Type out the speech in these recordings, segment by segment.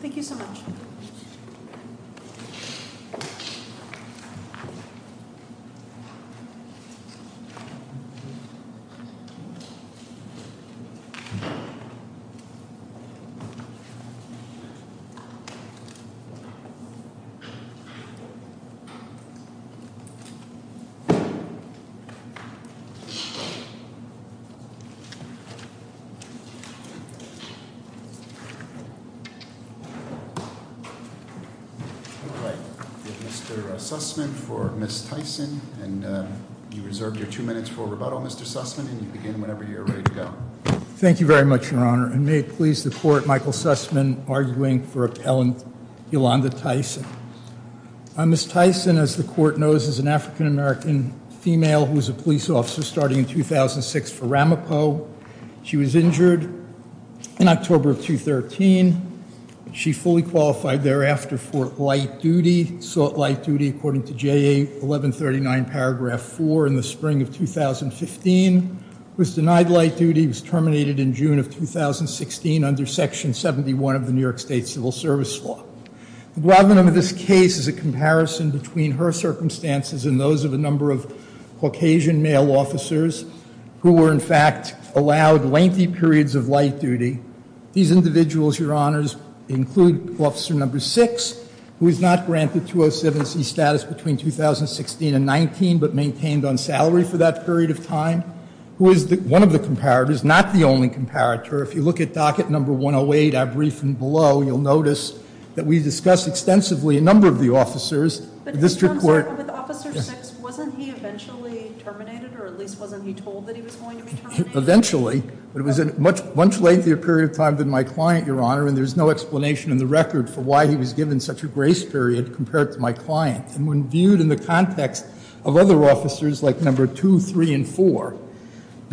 Thank you so much. Mr. Sussman for Ms. Tyson, and you reserve your two minutes for rebuttal, Mr. Sussman, and you begin whenever you're ready to go. Thank you very much, Your Honor, and may it please the Court, Michael Sussman arguing for Ms. Tyson, as the Court knows, is an African-American female who was a police officer starting in 2006 for Ramapo. She was injured in October of 2013. She fully qualified thereafter for light duty, sought light duty according to JA 1139 paragraph 4 in the spring of 2015, was denied light duty, was terminated in June of 2016 under Section 71 of the New York State Civil Service Law. The problem of this case is a comparison between her circumstances and those of a number of Caucasian male officers who were, in fact, allowed lengthy periods of light duty. These individuals, Your Honors, include Officer No. 6, who was not granted 207C status between 2016 and 19, but maintained on salary for that period of time, who is one of the comparators, not the only comparator. If you look at docket No. 108, our briefing below, you'll notice that we discussed extensively a number of the officers. But, Mr. Armstrong, with Officer 6, wasn't he eventually terminated, or at least wasn't he told that he was going to be terminated? Eventually, but it was a much lengthier period of time than my client, Your Honor, and there's no explanation in the record for why he was given such a grace period compared to my client. And when viewed in the context of other officers like No. 2, 3, and 4,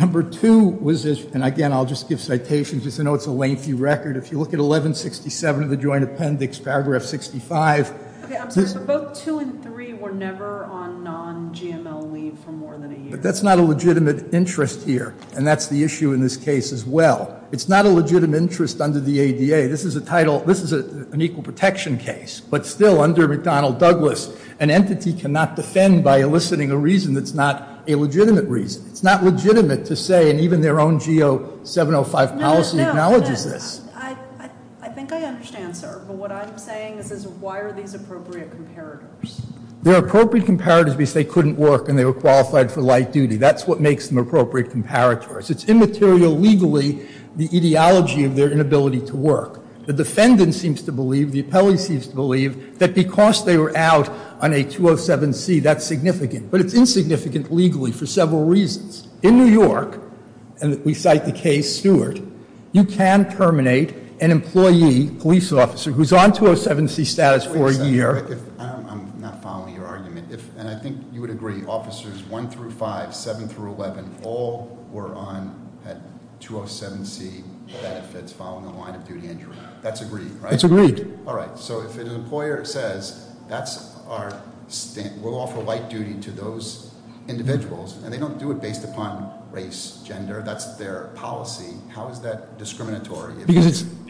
No. 2 was, and again, I'll just give citations just to know it's a lengthy record. If you look at 1167 of the Joint Appendix, Paragraph 65. Okay, I'm sorry, but both 2 and 3 were never on non-GML leave for more than a year. But that's not a legitimate interest here, and that's the issue in this case as well. It's not a legitimate interest under the ADA. This is a title, this is an equal protection case, but still under McDonnell Douglas, an entity cannot defend by eliciting a reason that's not a legitimate reason. It's not legitimate to say, and even their own GO 705 policy acknowledges this. No, no, I think I understand, sir. But what I'm saying is why are these appropriate comparators? They're appropriate comparators because they couldn't work and they were qualified for light duty. That's what makes them appropriate comparators. It's immaterial legally the ideology of their inability to work. The defendant seems to believe, the appellee seems to believe, that because they were out on a 207C, that's significant. But it's insignificant legally for several reasons. In New York, and we cite the case Stewart, you can terminate an employee, police officer, who's on 207C status for a year- Wait a second. I'm not following your argument. And I think you would agree, officers 1 through 5, 7 through 11, all were on, had 207C benefits following a line of duty injury. That's agreed, right? That's agreed. All right, so if an employer says, we'll offer light duty to those individuals, and they don't do it based upon race, gender, that's their policy, how is that discriminatory?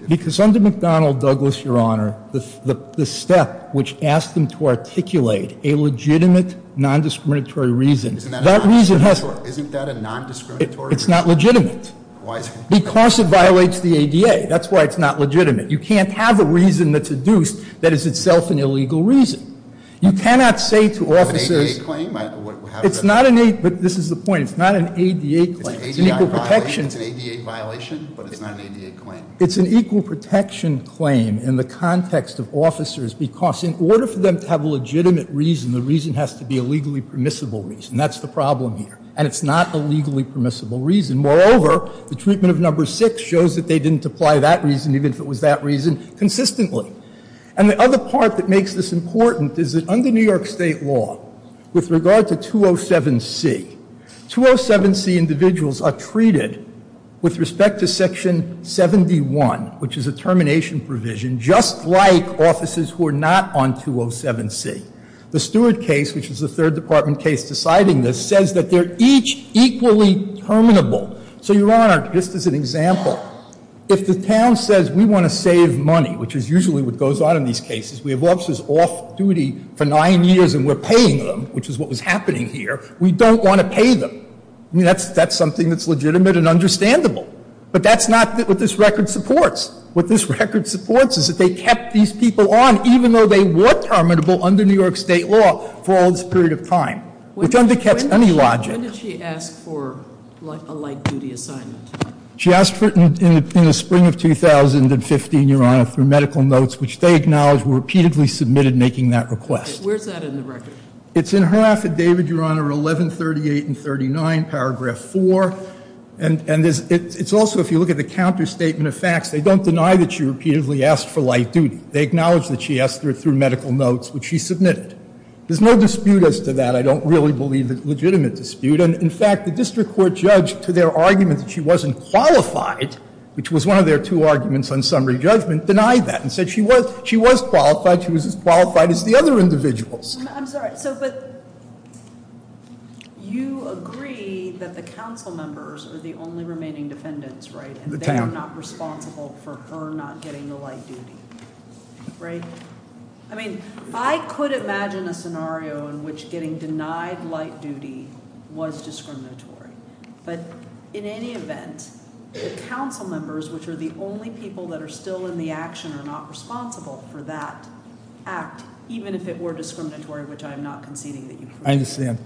Because under McDonnell, Douglas, your honor, the step which asked them to articulate a legitimate non-discriminatory reason- Isn't that a non-discriminatory reason? It's not legitimate. Why is it not? Because it violates the ADA. That's why it's not legitimate. You can't have a reason that's adduced that is itself an illegal reason. You cannot say to officers- Is it an ADA claim? It's not an, but this is the point, it's not an ADA claim. It's an ADA violation, but it's not an ADA claim. It's an equal protection claim in the context of officers because in order for them to have a legitimate reason, the reason has to be a legally permissible reason. That's the problem here. And it's not a legally permissible reason. Moreover, the treatment of number six shows that they didn't apply that reason even if it was that reason consistently. And the other part that makes this important is that under New York State law, with regard to 207C, 207C individuals are treated with respect to section 71, which is a termination provision, just like officers who are not on 207C. The Stewart case, which is the third department case deciding this, says that they're each equally terminable. So, Your Honor, just as an example, if the town says we want to save money, which is usually what goes on in these cases, we have officers off duty for nine years and we're paying them, which is what was happening here, we don't want to pay them. I mean, that's something that's legitimate and understandable. But that's not what this record supports. What this record supports is that they kept these people on, even though they were terminable under New York State law for all this period of time, which undercuts any logic. When did she ask for a light duty assignment? She asked for it in the spring of 2015, Your Honor, through medical notes, which they acknowledged were repeatedly submitted making that request. Where's that in the record? It's in her affidavit, Your Honor, 1138 and 39, paragraph 4. And it's also, if you look at the counterstatement of facts, they don't deny that she repeatedly asked for light duty. They acknowledge that she asked for it through medical notes, which she submitted. There's no dispute as to that. I don't really believe it's a legitimate dispute. And, in fact, the district court judge, to their argument that she wasn't qualified, which was one of their two arguments on summary judgment, denied that and said she was qualified. She was as qualified as the other individuals. I'm sorry, but you agree that the council members are the only remaining defendants, right? And they're not responsible for her not getting the light duty, right? I mean, I could imagine a scenario in which getting denied light duty was discriminatory. But in any event, the council members, which are the only people that are still in the action, are not responsible for that act, even if it were discriminatory, which I'm not conceding that you've proven. I understand.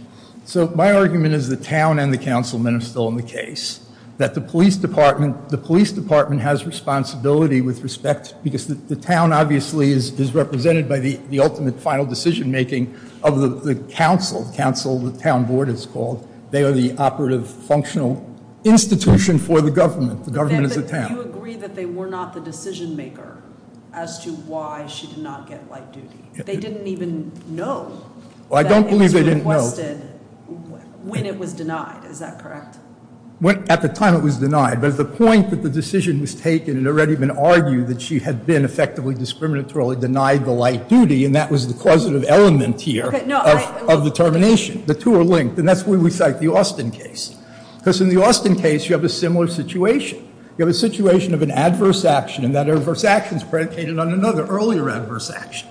So my argument is the town and the councilmen are still in the case, that the police department has responsibility with respect, because the town, obviously, is represented by the ultimate final decision-making of the council. The council, the town board, it's called. They are the operative, functional institution for the government. The government is the town. Do you agree that they were not the decision-maker as to why she did not get light duty? They didn't even know. Well, I don't believe they didn't know. That it was requested when it was denied. Is that correct? At the time, it was denied. But at the point that the decision was taken, it had already been argued that she had been effectively discriminatorily denied the light duty, and that was the causative element here of the termination. The two are linked, and that's where we cite the Austin case. Because in the Austin case, you have a similar situation. You have a situation of an adverse action, and that adverse action is predicated on another earlier adverse action.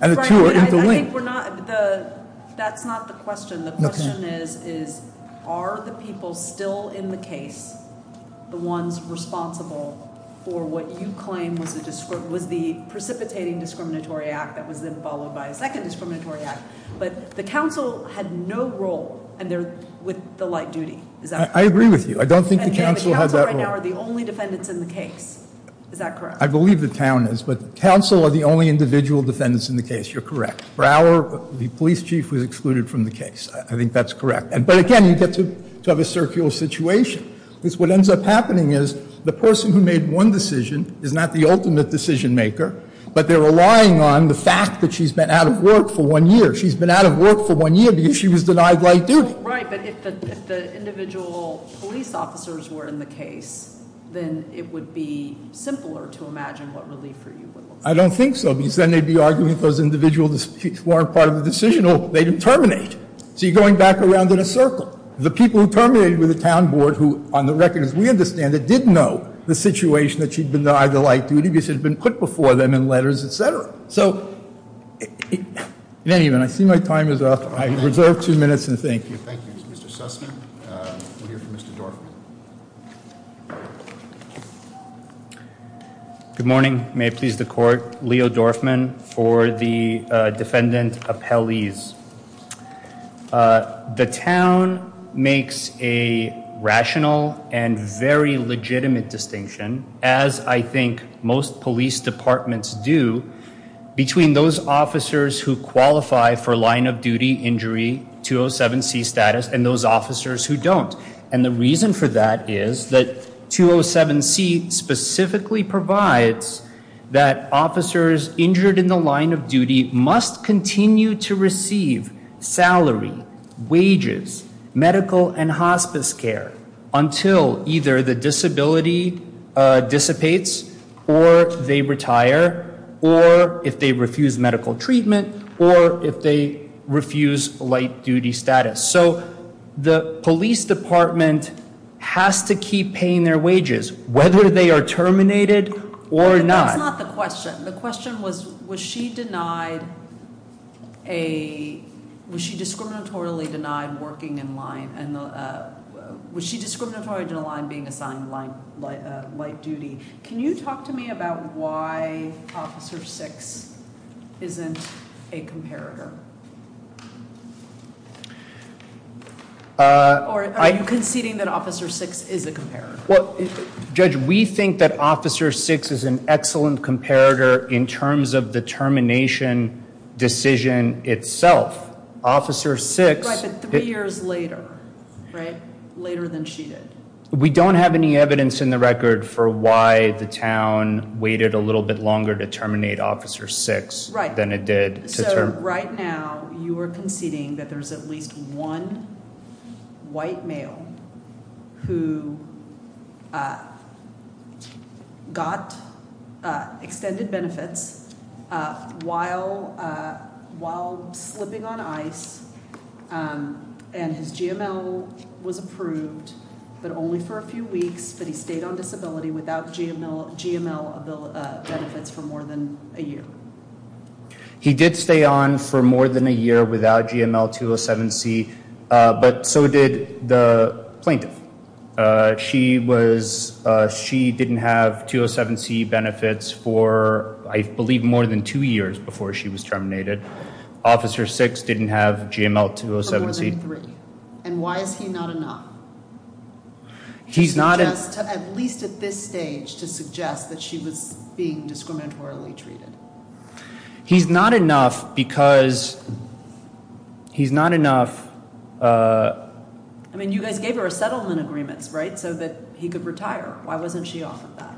And the two are interlinked. That's not the question. The question is, are the people still in the case the ones responsible for what you claim was the precipitating discriminatory act that was then followed by a second discriminatory act? But the council had no role with the light duty. Is that correct? I agree with you. I don't think the council had that role. And the council right now are the only defendants in the case. Is that correct? I believe the town is. But the council are the only individual defendants in the case. You're correct. Brower, the police chief, was excluded from the case. I think that's correct. But again, you get to have a circular situation. Because what ends up happening is the person who made one decision is not the ultimate decision maker, but they're relying on the fact that she's been out of work for one year. She's been out of work for one year because she was denied light duty. Right, but if the individual police officers were in the case, then it would be simpler to imagine what relief for you would look like. I don't think so. Because then they'd be arguing those individual disputes weren't part of the decision, or they'd terminate. So you're going back around in a circle. The people who terminated were the town board who, on the record, as we understand it, did know the situation that she'd been denied the light duty because it had been put before them in letters, et cetera. So in any event, I see my time is up. I reserve two minutes and thank you. Thank you, Mr. Sussman. We'll hear from Mr. Dorfman. Good morning. May it please the court. Leo Dorfman for the defendant appellees. The town makes a rational and very legitimate distinction, as I think most police departments do, between those officers who qualify for line of duty injury, 207C status, and those officers who don't. And the reason for that is that 207C specifically provides that officers injured in the line of duty must continue to receive salary, wages, medical, and hospice care until either the disability dissipates, or they retire, or if they refuse medical treatment, or if they refuse light duty status. So the police department has to keep paying their wages, whether they are terminated or not. That's not the question. The question was, was she discriminatorily denied working in line, and was she discriminatorily denied being assigned light duty? Can you talk to me about why Officer Six isn't a comparator? Are you conceding that Officer Six is a comparator? Judge, we think that Officer Six is an excellent comparator in terms of the termination decision itself. Officer Six- Right, but three years later, right? Later than she did. We don't have any evidence in the record for why the town waited a little bit longer to terminate Officer Six- Right. So right now, you are conceding that there's at least one white male who got extended benefits while slipping on ice, and his GML was approved, but only for a few weeks, but he stayed on disability without GML benefits for more than a year. He did stay on for more than a year without GML 207C, but so did the plaintiff. She didn't have 207C benefits for, I believe, more than two years before she was terminated. Officer Six didn't have GML 207C- For more than three. And why is he not enough? He's not enough- At least at this stage to suggest that she was being discriminatorily treated. He's not enough because he's not enough- I mean, you guys gave her settlement agreements, right, so that he could retire. Why wasn't she off of that?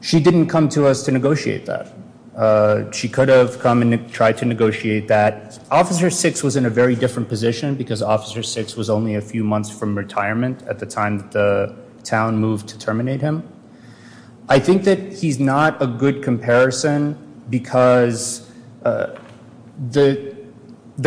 She didn't come to us to negotiate that. She could have come and tried to negotiate that. Officer Six was in a very different position because Officer Six was only a few months from retirement at the time that the town moved to terminate him. I think that he's not a good comparison because the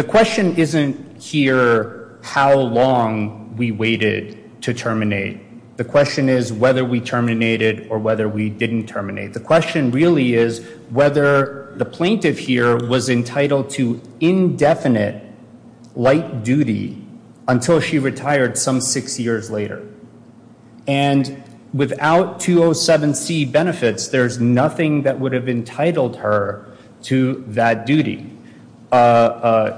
question isn't here how long we waited to terminate. The question is whether we terminated or whether we didn't terminate. The question really is whether the plaintiff here was entitled to indefinite light duty until she retired some six years later. And without 207C benefits, there's nothing that would have entitled her to that duty.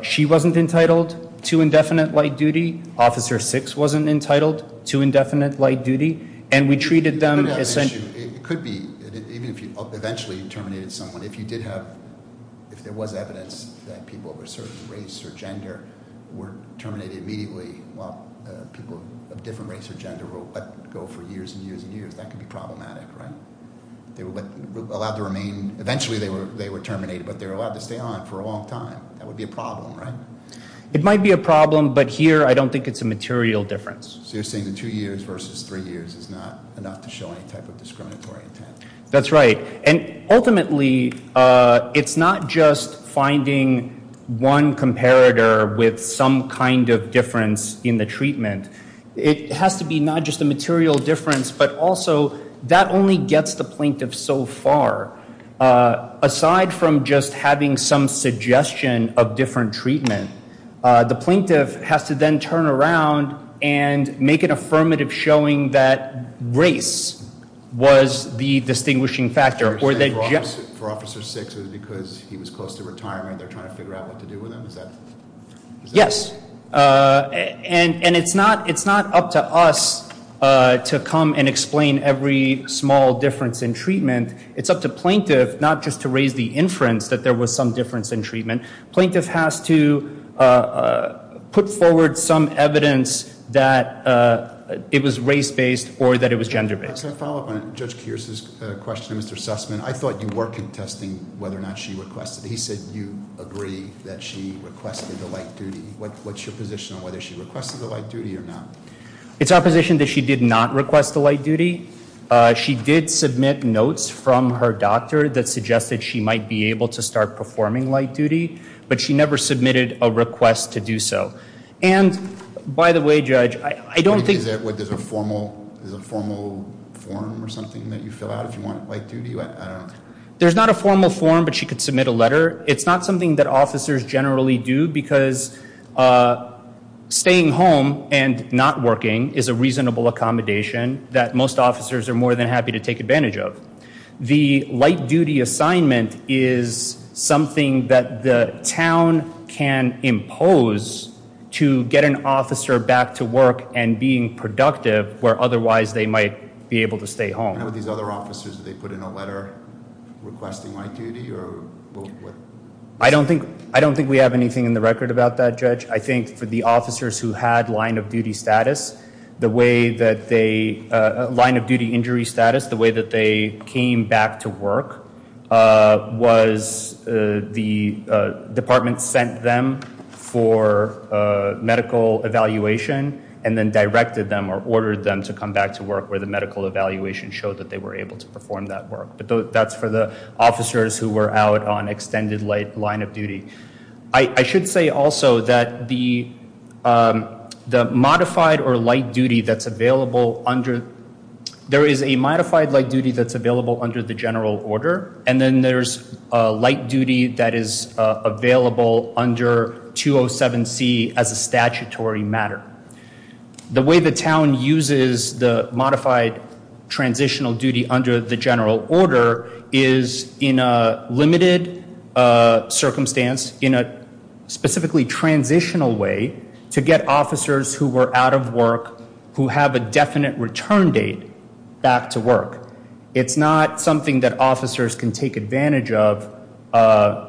She wasn't entitled to indefinite light duty. Officer Six wasn't entitled to indefinite light duty. It could be. Eventually you terminated someone. If there was evidence that people of a certain race or gender were terminated immediately while people of a different race or gender were let go for years and years and years, that could be problematic, right? Eventually they were terminated, but they were allowed to stay on for a long time. That would be a problem, right? It might be a problem, but here I don't think it's a material difference. So you're saying the two years versus three years is not enough to show any type of discriminatory intent. That's right. And ultimately it's not just finding one comparator with some kind of difference in the treatment. It has to be not just a material difference, but also that only gets the plaintiff so far. Aside from just having some suggestion of different treatment, the plaintiff has to then turn around and make an affirmative showing that race was the distinguishing factor. So you're saying for Officer Six it was because he was close to retirement they're trying to figure out what to do with him? Yes. And it's not up to us to come and explain every small difference in treatment. It's up to plaintiff not just to raise the inference that there was some difference in treatment. Plaintiff has to put forward some evidence that it was race-based or that it was gender-based. Can I follow up on Judge Kearse's question, Mr. Sussman? I thought you were contesting whether or not she requested it. He said you agree that she requested the light duty. What's your position on whether she requested the light duty or not? It's our position that she did not request the light duty. She did submit notes from her doctor that suggested she might be able to start performing light duty, but she never submitted a request to do so. And by the way, Judge, I don't think- Is there a formal form or something that you fill out if you want light duty? There's not a formal form, but she could submit a letter. It's not something that officers generally do because staying home and not working is a reasonable accommodation that most officers are more than happy to take advantage of. The light duty assignment is something that the town can impose to get an officer back to work and being productive where otherwise they might be able to stay home. What about these other officers? Do they put in a letter requesting light duty or what? I don't think we have anything in the record about that, Judge. I think for the officers who had line of duty status, the way that they- But that's for the officers who were out on extended line of duty. I should say also that the modified or light duty that's available under- There is a modified light duty that's available under the general order, and then there's a light duty that is available under 207C as a statutory matter. The way the town uses the modified transitional duty under the general order is in a limited circumstance in a specifically transitional way to get officers who were out of work who have a definite return date back to work. It's not something that officers can take advantage of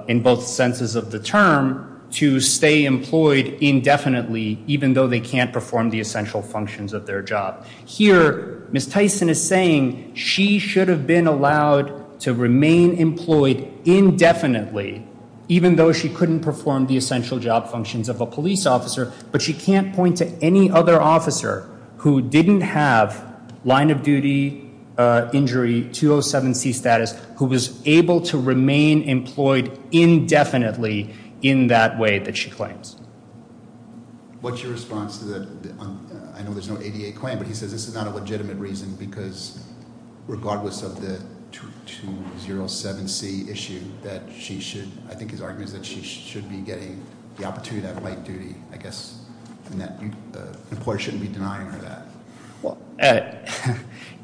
in both senses of the term to stay employed indefinitely even though they can't perform the essential functions of their job. Here, Ms. Tyson is saying she should have been allowed to remain employed indefinitely even though she couldn't perform the essential job functions of a police officer. But she can't point to any other officer who didn't have line of duty injury 207C status who was able to remain employed indefinitely in that way that she claims. What's your response to that? I know there's no ADA claim, but he says this is not a legitimate reason because regardless of the 207C issue that she should- I think his argument is that she should be getting the opportunity to have light duty, I guess, and that employers shouldn't be denying her that.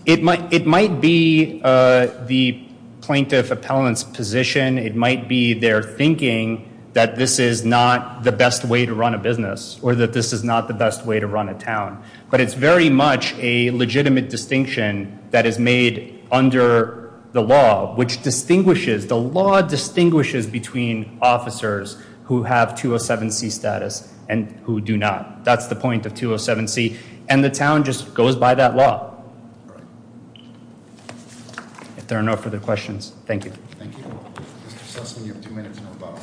It might be the plaintiff appellant's position. It might be their thinking that this is not the best way to run a business or that this is not the best way to run a town. But it's very much a legitimate distinction that is made under the law, which distinguishes- the law distinguishes between officers who have 207C status and who do not. That's the point of 207C, and the town just goes by that law. If there are no further questions, thank you. Thank you. Mr. Sussman, you have two minutes and about.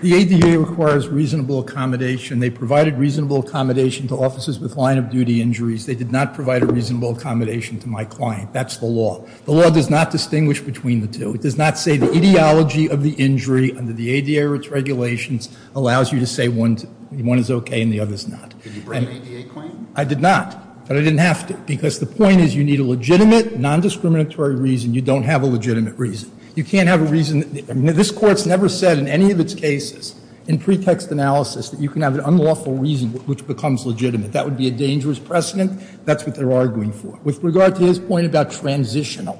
The ADA requires reasonable accommodation. They provided reasonable accommodation to officers with line of duty injuries. They did not provide a reasonable accommodation to my client. That's the law. The law does not distinguish between the two. It does not say the ideology of the injury under the ADA or its regulations allows you to say one is okay and the other is not. Did you bring an ADA claim? I did not, but I didn't have to, because the point is you need a legitimate, nondiscriminatory reason. You don't have a legitimate reason. You can't have a reason- this Court's never said in any of its cases in pretext analysis that you can have an unlawful reason which becomes legitimate. That would be a dangerous precedent. That's what they're arguing for. With regard to his point about transitional,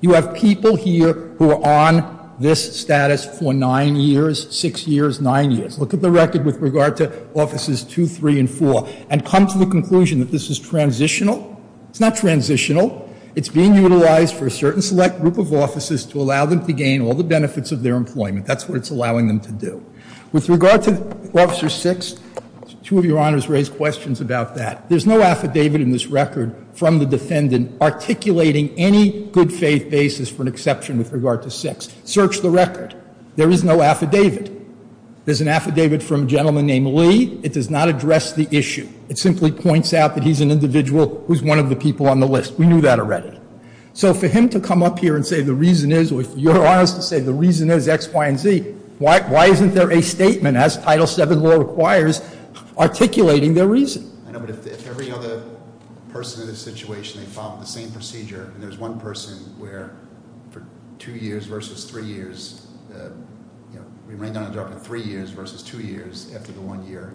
you have people here who are on this status for nine years, six years, nine years. Look at the record with regard to Offices 2, 3, and 4 and come to the conclusion that this is transitional. It's not transitional. It's being utilized for a certain select group of officers to allow them to gain all the benefits of their employment. That's what it's allowing them to do. With regard to Officer 6, two of your honors raised questions about that. There's no affidavit in this record from the defendant articulating any good faith basis for an exception with regard to 6. Search the record. There is no affidavit. There's an affidavit from a gentleman named Lee. It does not address the issue. It simply points out that he's an individual who's one of the people on the list. We knew that already. So for him to come up here and say the reason is, or for your honors to say the reason is X, Y, and Z, why isn't there a statement, as Title VII law requires, articulating their reason? I know, but if every other person in this situation, they follow the same procedure, and there's one person where for two years versus three years, we ran down a drop in three years versus two years after the one year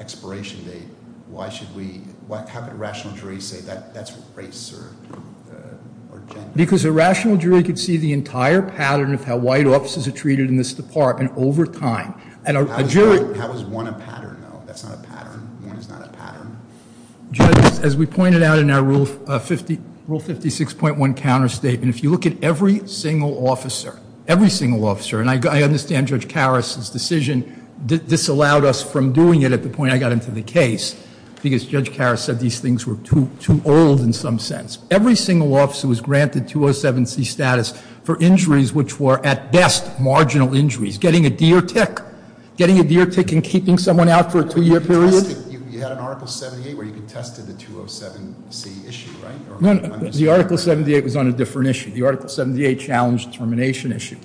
expiration date, why should we, how could a rational jury say that's race or gender? Because a rational jury could see the entire pattern of how white officers are treated in this department over time. And a jury- How is one a pattern, though? That's not a pattern. One is not a pattern. Judges, as we pointed out in our Rule 56.1 counterstatement, if you look at every single officer, every single officer, and I understand Judge Karas's decision disallowed us from doing it at the point I got into the case, because Judge Karas said these things were too old in some sense. Every single officer was granted 207C status for injuries which were, at best, marginal injuries. Getting a deer tick, getting a deer tick and keeping someone out for a two-year period- You had an Article 78 where you contested the 207C issue, right? The Article 78 was on a different issue. The Article 78 challenged termination issue,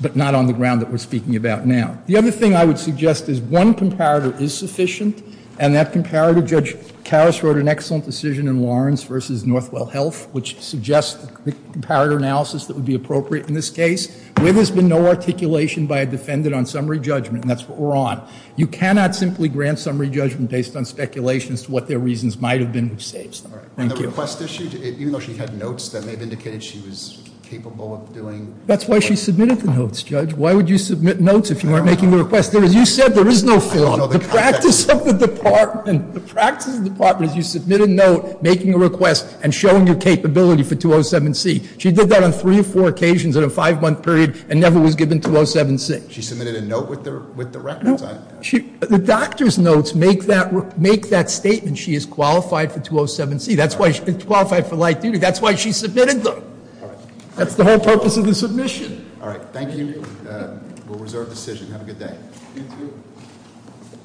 but not on the ground that we're speaking about now. The other thing I would suggest is one comparator is sufficient, and that comparator, Judge Karas wrote an excellent decision in Lawrence versus Northwell Health, which suggests the comparator analysis that would be appropriate in this case. Where there's been no articulation by a defendant on summary judgment, and that's what we're on. You cannot simply grant summary judgment based on speculation as to what their reasons might have been, which saves them. Thank you. And the request issue, even though she had notes that may have indicated she was capable of doing- That's why she submitted the notes, Judge. Why would you submit notes if you weren't making the request? As you said, there is no film. The practice of the department is you submit a note making a request and showing your capability for 207C. She did that on three or four occasions in a five month period and never was given 207C. She submitted a note with the records? No. The doctor's notes make that statement she is qualified for 207C. That's why she's qualified for light duty. That's why she submitted them. That's the whole purpose of the submission. All right. Thank you. We'll reserve decision. Have a good day. You too.